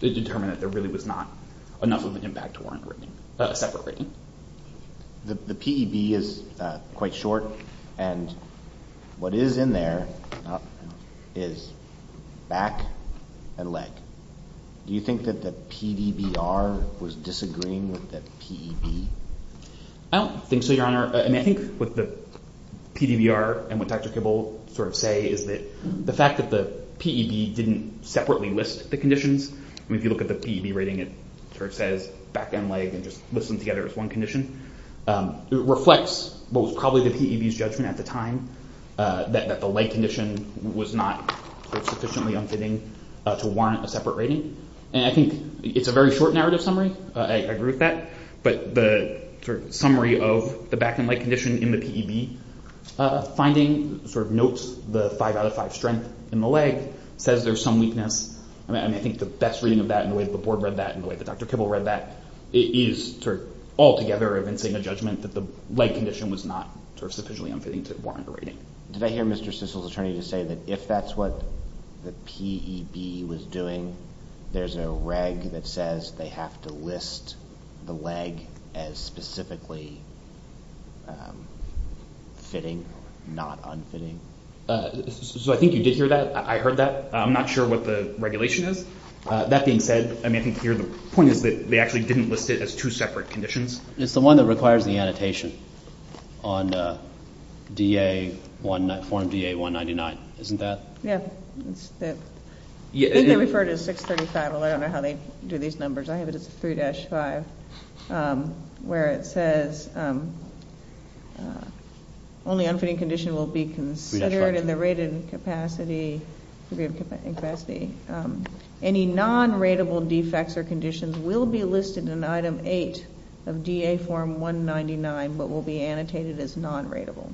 it determined that there really was not enough of an impact to warrant a rating, a separate rating. The PEB is quite short, and what is in there is back and leg. Do you think that the PDBR was disagreeing with the PEB? I don't think so, Your Honor. I mean, I think what the PDBR and what Dr. Kibble sort of say is that the fact that the PEB didn't separately list the conditions, I mean, if you look at the PEB rating, it sort of says back and leg and just lists them together as one condition. It reflects what was probably the PEB's judgment at the time, that the leg condition was not sufficiently unfitting to warrant a separate rating. And I think it's a very short narrative summary. I agree with that. But the sort of summary of the back and leg condition in the PEB finding sort of notes the 5 out of 5 strength in the leg, says there's some weakness. I mean, I think the best reading of that and the way that the board read that and the way that Dr. Kibble read that is sort of altogether evincing a judgment that the leg condition was not sort of sufficiently unfitting to warrant a rating. Did I hear Mr. Sissel's attorney to say that if that's what the PEB was doing, there's a reg that says they have to list the leg as specifically fitting, not unfitting? So I think you did hear that. I heard that. I'm not sure what the regulation is. That being said, I mean, I think the point is that they actually didn't list it as two separate conditions. It's the one that requires the annotation on DA199, isn't that? Yeah. I think they refer to 635. I don't know how they do these numbers. I have it as 3-5, where it says only unfitting condition will be considered in the rated capacity. Any non-ratable defects or conditions will be listed in Item 8 of DA Form 199 but will be annotated as non-ratable.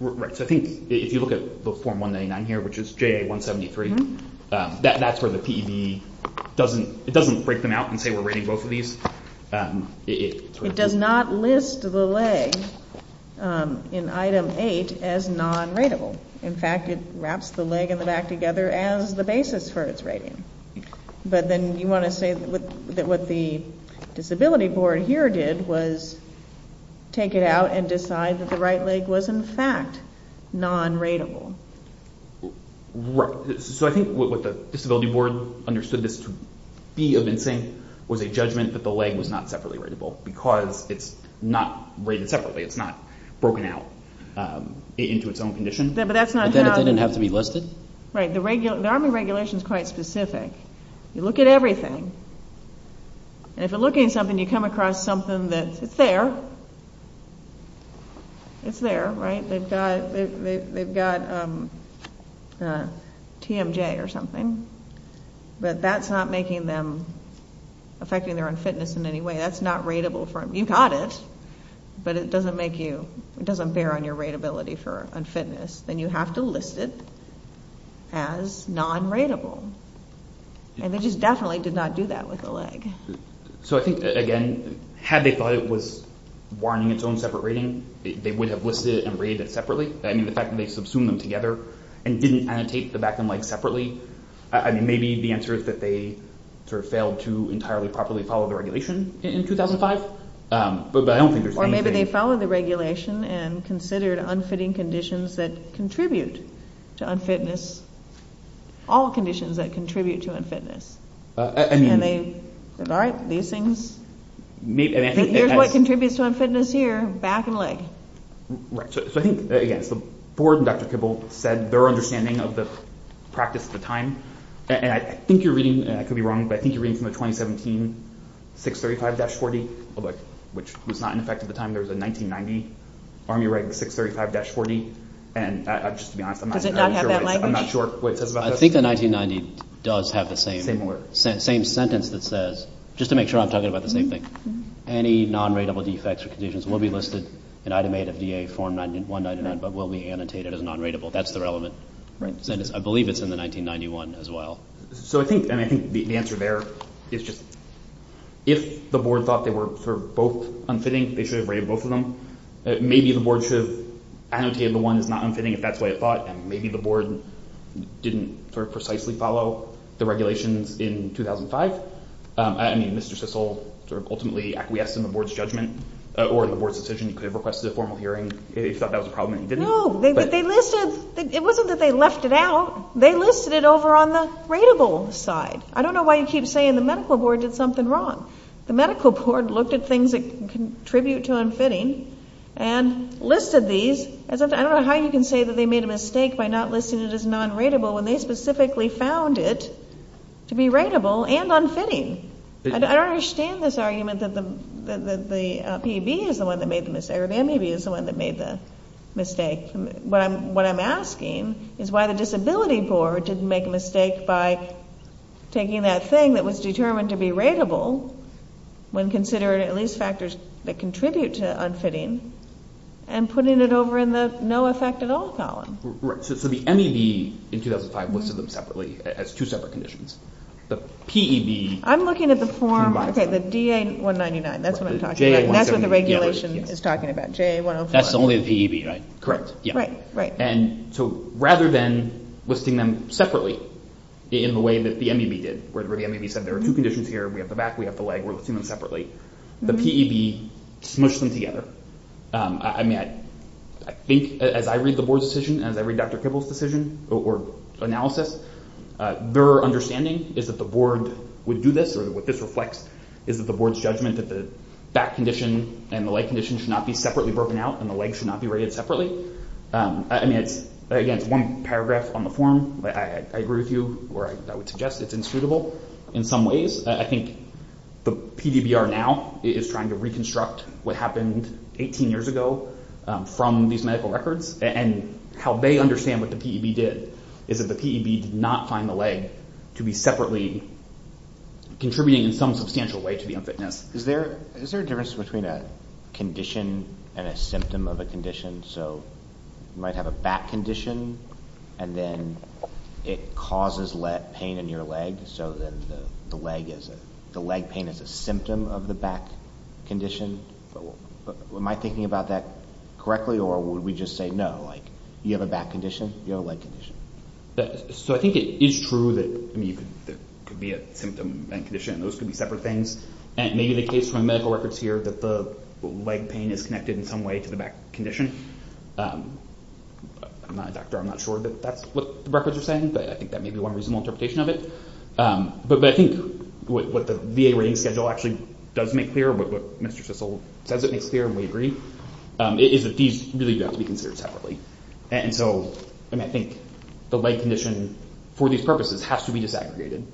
Right. So I think if you look at the Form 199 here, which is JA173, that's where the PEB doesn't break them out and say we're rating both of these. It does not list the leg in Item 8 as non-ratable. In fact, it wraps the leg and the back together as the basis for its rating. But then you want to say that what the disability board here did was take it out and decide that the right leg was, in fact, non-ratable. So I think what the disability board understood this to be evincing was a judgment that the leg was not separately ratable because it's not rated separately. It's not broken out into its own condition. But then it didn't have to be listed? Right. The Army regulation is quite specific. You look at everything. And if you're looking at something, you come across something that's there. It's there, right? They've got TMJ or something, but that's not making them affecting their own fitness in any way. That's not ratable for them. You got it, but it doesn't make you ñ it doesn't bear on your ratability for unfitness. Then you have to list it as non-ratable. And they just definitely did not do that with the leg. So I think, again, had they thought it was warning its own separate rating, they would have listed it and rated it separately. I mean, the fact that they subsumed them together and didn't annotate the back and legs separately, maybe the answer is that they sort of failed to entirely properly follow the regulation in 2005. But I don't think there's anything ñ Or maybe they followed the regulation and considered unfitting conditions that contribute to unfitness. All conditions that contribute to unfitness. And they said, all right, these things ñ here's what contributes to unfitness here, back and leg. So I think, again, the board and Dr. Kibble said their understanding of the practice at the time. And I think you're reading, and I could be wrong, but I think you're reading from the 2017 635-40, which was not in effect at the time. There was a 1990 Army Reg 635-40. And just to be honest, I'm not sure what it says about this. I think the 1990 does have the same sentence that says, just to make sure I'm talking about the same thing, any non-ratable defects or conditions will be listed in Item 8 of DA Form 199 but will be annotated as non-ratable. That's the relevant sentence. I believe it's in the 1991 as well. So I think, and I think the answer there is just, if the board thought they were sort of both unfitting, they should have rated both of them. Maybe the board should have annotated the one that's not unfitting if that's the way it thought, and maybe the board didn't sort of precisely follow the regulations in 2005. I mean, Mr. Sissel sort of ultimately acquiesced in the board's judgment or in the board's decision. He could have requested a formal hearing if he thought that was a problem and he didn't. No, they listed, it wasn't that they left it out. They listed it over on the ratable side. I don't know why you keep saying the medical board did something wrong. The medical board looked at things that contribute to unfitting and listed these. I don't know how you can say that they made a mistake by not listing it as non-ratable when they specifically found it to be ratable and unfitting. I don't understand this argument that the PB is the one that made the mistake or the MAB is the one that made the mistake. What I'm asking is why the disability board didn't make a mistake by taking that thing that was determined to be ratable when considering at least factors that contribute to unfitting and putting it over in the no effect at all column. Right. So the MAB in 2005 listed them separately as two separate conditions. The PEB. I'm looking at the form, okay, the DA-199. That's what I'm talking about. That's what the regulation is talking about, JA-104. That's only the PEB, right? Correct, yeah. Right, right. And so rather than listing them separately in the way that the MAB did where the MAB said there are two conditions here. We have the back. We have the leg. We're listing them separately. The PEB smushed them together. I mean, I think as I read the board's decision and as I read Dr. Kibble's decision or analysis, their understanding is that the board would do this or what this reflects is that the board's judgment that the back condition and the leg condition should not be separately broken out and the leg should not be rated separately. I mean, again, it's one paragraph on the form. I agree with you or I would suggest it's insuitable in some ways. I think the PDBR now is trying to reconstruct what happened 18 years ago from these medical records and how they understand what the PEB did is that the PEB did not find the leg to be separately contributing in some substantial way to the unfitness. So you might have a back condition and then it causes pain in your leg, so then the leg pain is a symptom of the back condition. Am I thinking about that correctly or would we just say no, like you have a back condition, you have a leg condition? So I think it is true that there could be a symptom and condition and those could be separate things and maybe the case from the medical records here that the leg pain is connected in some way to the back condition. I'm not a doctor. I'm not sure that that's what the records are saying, but I think that may be one reasonable interpretation of it. But I think what the VA rating schedule actually does make clear, what Mr. Sissel says it makes clear and we agree, is that these really do have to be considered separately. And so I think the leg condition for these purposes has to be disaggregated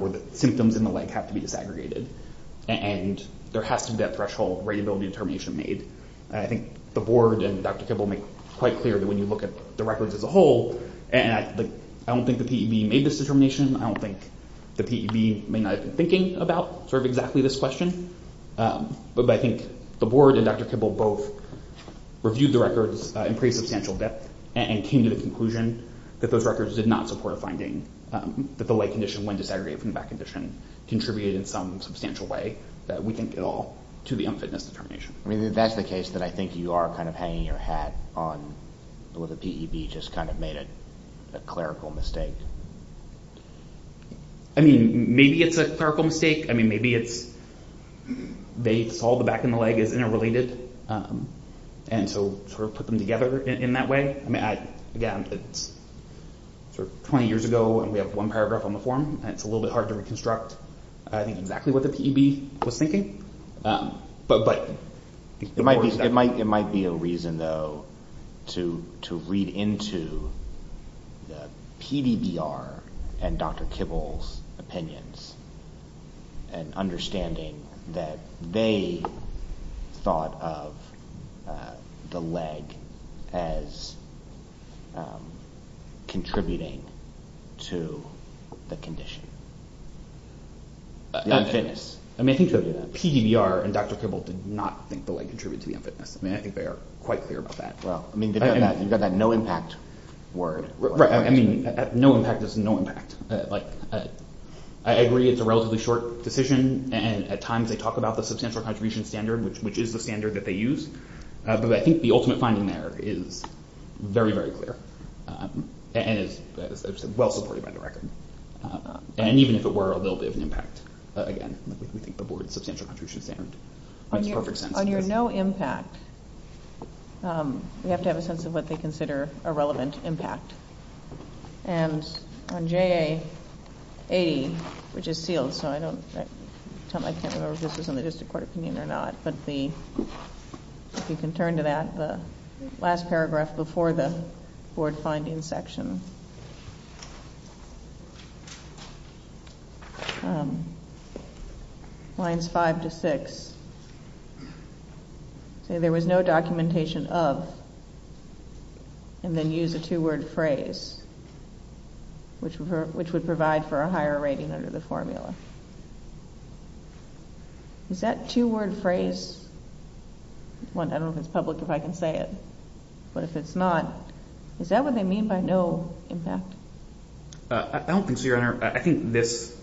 or the symptoms in the leg have to be disaggregated and there has to be that threshold ratability determination made. I think the board and Dr. Kibble make quite clear that when you look at the records as a whole, and I don't think the PEB made this determination, I don't think the PEB may not have been thinking about exactly this question, but I think the board and Dr. Kibble both reviewed the records in pretty substantial depth and came to the conclusion that those records did not support a finding that the leg condition when disaggregated from the back condition contributed in some substantial way that we think at all to the unfitness determination. That's the case that I think you are kind of hanging your hat on where the PEB just kind of made a clerical mistake. I mean, maybe it's a clerical mistake. I mean, maybe it's they saw the back of the leg as interrelated and so sort of put them together in that way. Again, it's 20 years ago and we have one paragraph on the form and it's a little bit hard to reconstruct, I think, exactly what the PEB was thinking. But it might be a reason, though, to read into the PDBR and Dr. Kibble's opinions and understanding that they thought of the leg as contributing to the condition. The unfitness. I mean, I think PDBR and Dr. Kibble did not think the leg contributed to the unfitness. I mean, I think they are quite clear about that. Well, I mean, you've got that no impact word. Right. I mean, no impact is no impact. I agree it's a relatively short decision and at times they talk about the substantial contribution standard, which is the standard that they use. But I think the ultimate finding there is very, very clear and is well supported by the record. And even if it were a little bit of an impact, again, we think the board's substantial contribution standard makes perfect sense. On your no impact, we have to have a sense of what they consider a relevant impact. And on JA 80, which is sealed, so I can't remember if this was in the district court opinion or not, but if you can turn to that, the last paragraph before the board finding section. Lines five to six say there was no documentation of and then use a two-word phrase, which would provide for a higher rating under the formula. Is that two-word phrase? I don't know if it's public, if I can say it, but if it's not, is that what they mean by no impact? I don't think so, Your Honor. I think this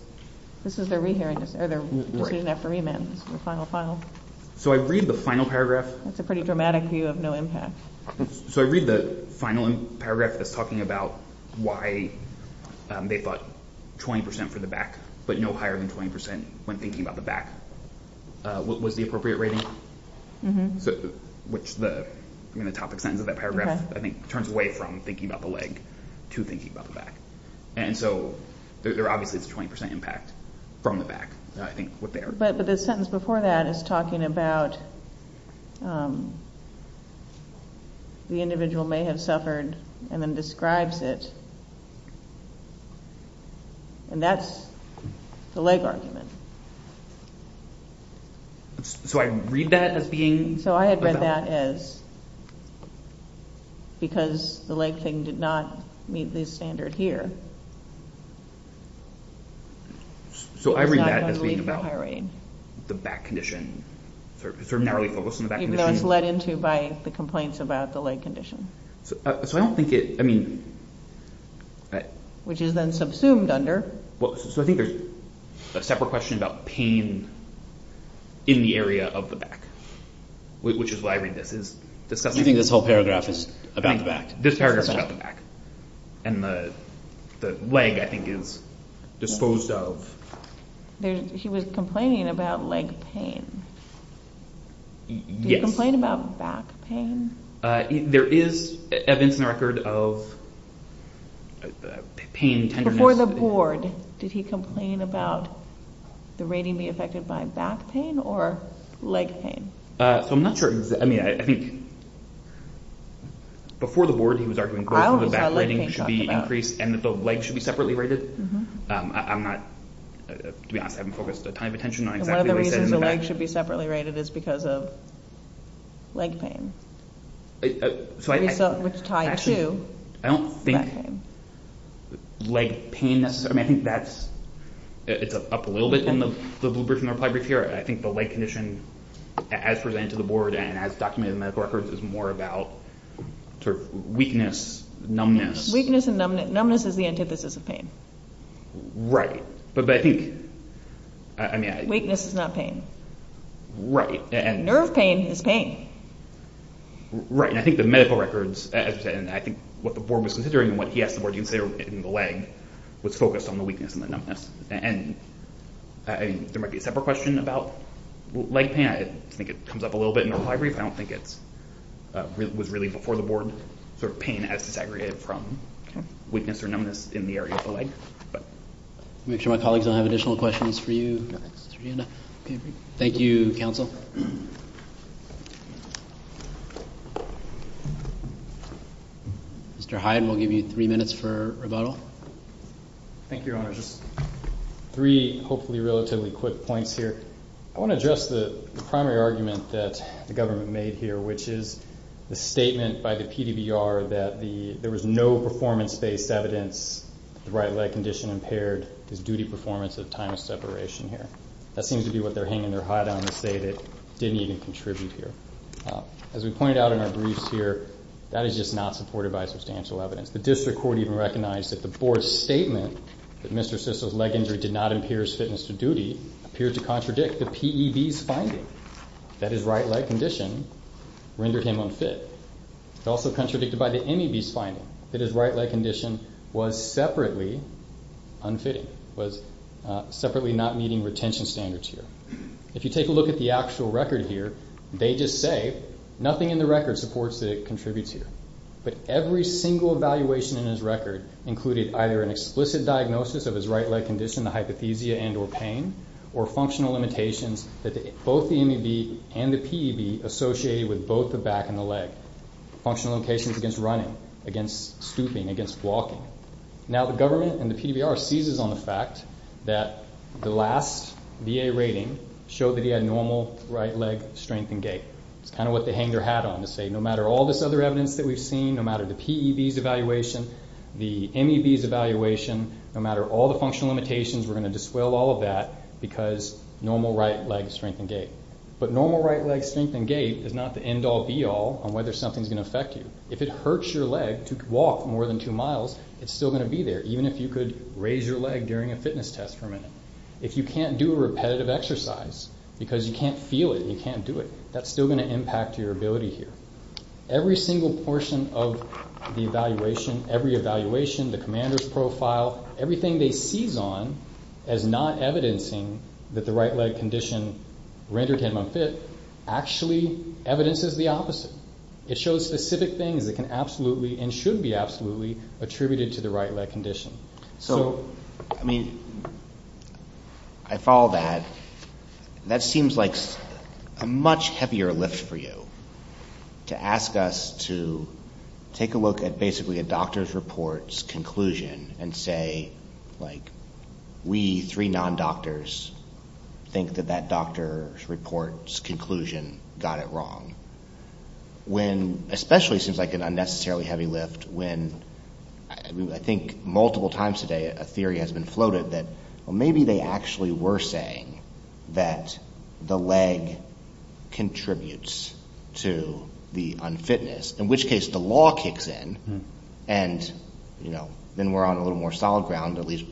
is their decision after remand, the final file. So I read the final paragraph. That's a pretty dramatic view of no impact. So I read the final paragraph that's talking about why they thought 20% for the back, but no higher than 20% when thinking about the back. What was the appropriate rating? Mm-hmm. Which the topic sentence of that paragraph, I think, turns away from thinking about the leg to thinking about the back. And so there obviously is a 20% impact from the back. But the sentence before that is talking about the individual may have suffered and then describes it. And that's the leg argument. So I read that as being about... So I had read that as because the leg thing did not meet this standard here. So I read that as being about the back condition, sort of narrowly focused on the back condition. Even though it's led into by the complaints about the leg condition. So I don't think it, I mean, Which is then subsumed under... So I think there's a separate question about pain in the area of the back, which is why I read this. You think this whole paragraph is about the back? This paragraph is about the back. And the leg, I think, is disposed of. He was complaining about leg pain. Yes. Do you complain about back pain? There is evidence in the record of pain tenderness. Before the board, did he complain about the rating being affected by back pain or leg pain? So I'm not sure, I mean, I think before the board, he was arguing both of the back ratings should be increased and that the legs should be separately rated. I'm not, to be honest, I haven't focused a ton of attention on exactly what he said in the back. And one of the reasons the legs should be separately rated is because of leg pain, which tied to back pain. I don't think leg pain necessarily, I mean, I think that's, it's up a little bit in the blue brief and the reply brief here. I think the leg condition, as presented to the board and as documented in the medical records, is more about sort of weakness, numbness. Weakness and numbness. Numbness is the antithesis of pain. Right, but I think... Weakness is not pain. Right, and... Nerve pain is pain. Right, and I think the medical records, and I think what the board was considering and what he asked the board to consider in the leg was focused on the weakness and the numbness. And there might be a separate question about leg pain. I think it comes up a little bit in the reply brief. I don't think it was really before the board, sort of pain as disaggregated from weakness or numbness in the area of the leg. Make sure my colleagues don't have additional questions for you. Thank you, counsel. Mr. Hyde, we'll give you 3 minutes for rebuttal. Thank you, Your Honor. Just 3 hopefully relatively quick points here. I want to address the primary argument that the government made here, which is the statement by the PDBR that there was no performance-based evidence that the right leg condition impaired his duty performance at a time of separation here. That seems to be what they're hanging their hat on to say that it didn't even contribute here. As we pointed out in our briefs here, that is just not supported by substantial evidence. The district court even recognized that the board's statement that Mr. Siso's leg injury did not impair his fitness to duty appeared to contradict the PEB's finding that his right leg condition rendered him unfit. It's also contradicted by the MEB's finding that his right leg condition was separately unfitting, was separately not meeting retention standards here. If you take a look at the actual record here, they just say nothing in the record supports that it contributes here. But every single evaluation in his record included either an explicit diagnosis of his right leg condition, the hypothesia and or pain, or functional limitations that both the MEB and the PEB associated with both the back and the leg, functional limitations against running, against stooping, against walking. Now, the government and the PDBR seizes on the fact that the last VA rating showed that he had normal right leg strength and gait. It's kind of what they hang their hat on to say no matter all this other evidence that we've seen, no matter the PEB's evaluation, the MEB's evaluation, no matter all the functional limitations, we're going to disavow all of that because normal right leg strength and gait. But normal right leg strength and gait is not the end-all, be-all on whether something's going to affect you. If it hurts your leg to walk more than two miles, it's still going to be there, even if you could raise your leg during a fitness test for a minute. If you can't do a repetitive exercise because you can't feel it and you can't do it, that's still going to impact your ability here. Every single portion of the evaluation, every evaluation, the commander's profile, everything they seize on as not evidencing that the right leg condition rendered him unfit actually evidences the opposite. It shows specific things that can absolutely and should be absolutely attributed to the right leg condition. So, I mean, I follow that. That seems like a much heavier lift for you to ask us to take a look at basically a doctor's report's conclusion and say, like, we, three non-doctors, think that that doctor's report's conclusion got it wrong, when especially it seems like an unnecessarily heavy lift when I think multiple times today a theory has been floated that maybe they actually were saying that the leg contributes to the unfitness, in which case the law kicks in, and then we're on a little more solid ground, at least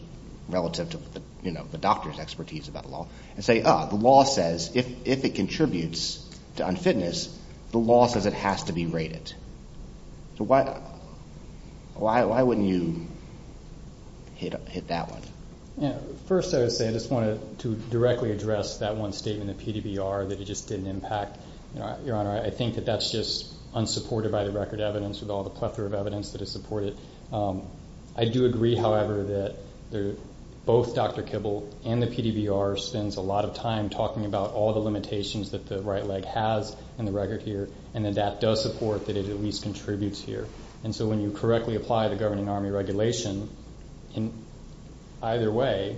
relative to the doctor's expertise about law, and say, oh, the law says if it contributes to unfitness, the law says it has to be rated. So why wouldn't you hit that one? First, I would say I just wanted to directly address that one statement, the PDBR, that it just didn't impact. Your Honor, I think that that's just unsupported by the record evidence with all the plethora of evidence that has supported it. I do agree, however, that both Dr. Kibble and the PDBR spends a lot of time talking about all the limitations that the right leg has in the record here, and that that does support that it at least contributes here. And so when you correctly apply the Governing Army Regulation, either way,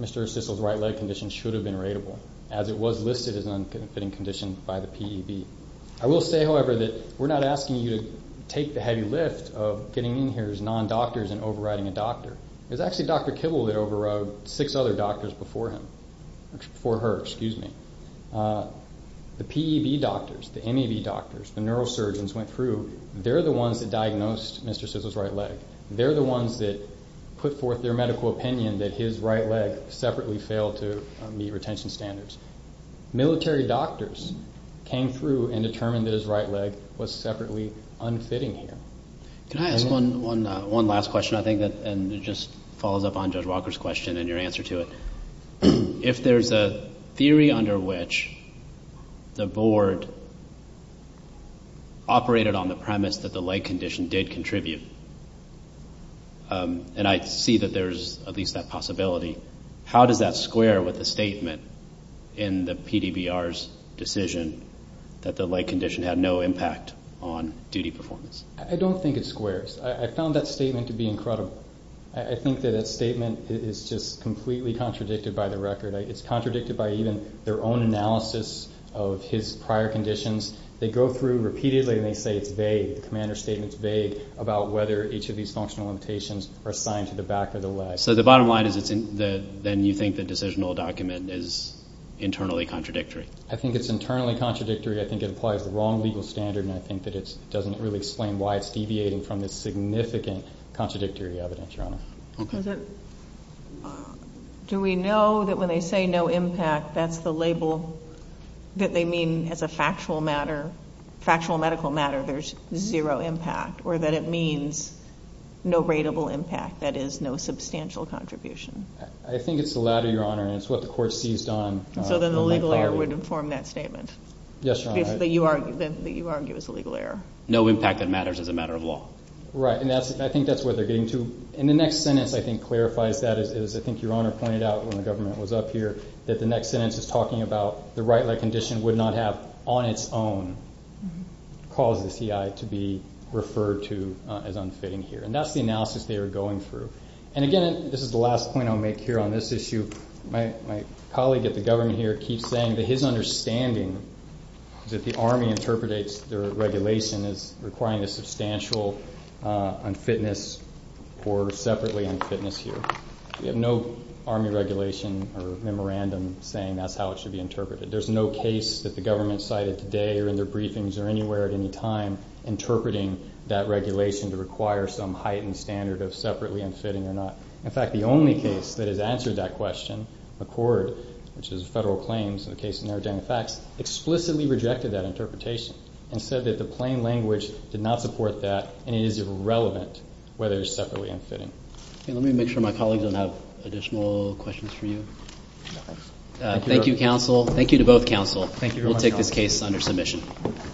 Mr. Sissle's right leg condition should have been rateable, as it was listed as an unfitting condition by the PEB. I will say, however, that we're not asking you to take the heavy lift of getting in here as non-doctors and overriding a doctor. It was actually Dr. Kibble that overrode six other doctors before her. The PEB doctors, the MEV doctors, the neurosurgeons went through, they're the ones that diagnosed Mr. Sissle's right leg. They're the ones that put forth their medical opinion that his right leg separately failed to meet retention standards. Military doctors came through and determined that his right leg was separately unfitting here. Can I ask one last question, I think, and it just follows up on Judge Walker's question and your answer to it? If there's a theory under which the Board operated on the premise that the leg condition did contribute, and I see that there's at least that possibility, how does that square with the statement in the PDBR's decision that the leg condition had no impact on duty performance? I don't think it squares. I found that statement to be incredible. I think that that statement is just completely contradicted by the record. It's contradicted by even their own analysis of his prior conditions. They go through repeatedly and they say it's vague. The commander's statement is vague about whether each of these functional limitations are assigned to the back of the leg. So the bottom line is then you think the decisional document is internally contradictory. I think it's internally contradictory. I think it applies the wrong legal standard, and I think that it doesn't really explain why it's deviating from the significant contradictory evidence, Your Honor. Okay. Do we know that when they say no impact, that's the label that they mean as a factual matter, factual medical matter? That there's zero impact or that it means no rateable impact, that is, no substantial contribution? I think it's the latter, Your Honor, and it's what the court seized on. So then the legal error would inform that statement? Yes, Your Honor. That you argue is a legal error. No impact that matters as a matter of law. Right, and I think that's where they're getting to. And the next sentence I think clarifies that, as I think Your Honor pointed out when the government was up here, that the next sentence is talking about the right leg condition would not have on its own caused the CI to be referred to as unfitting here. And that's the analysis they are going through. And, again, this is the last point I'll make here on this issue. My colleague at the government here keeps saying that his understanding is that the Army interprets their regulation as requiring a substantial unfitness or separately unfitness here. We have no Army regulation or memorandum saying that's how it should be interpreted. There's no case that the government cited today or in their briefings or anywhere at any time interpreting that regulation to require some heightened standard of separately unfitting or not. In fact, the only case that has answered that question, McCord, which is a federal claim, so the case of Narodan and Fax, explicitly rejected that interpretation and said that the plain language did not support that and it is irrelevant whether it's separately unfitting. Let me make sure my colleagues don't have additional questions for you. Thank you, counsel. Thank you to both counsel. We'll take this case under submission.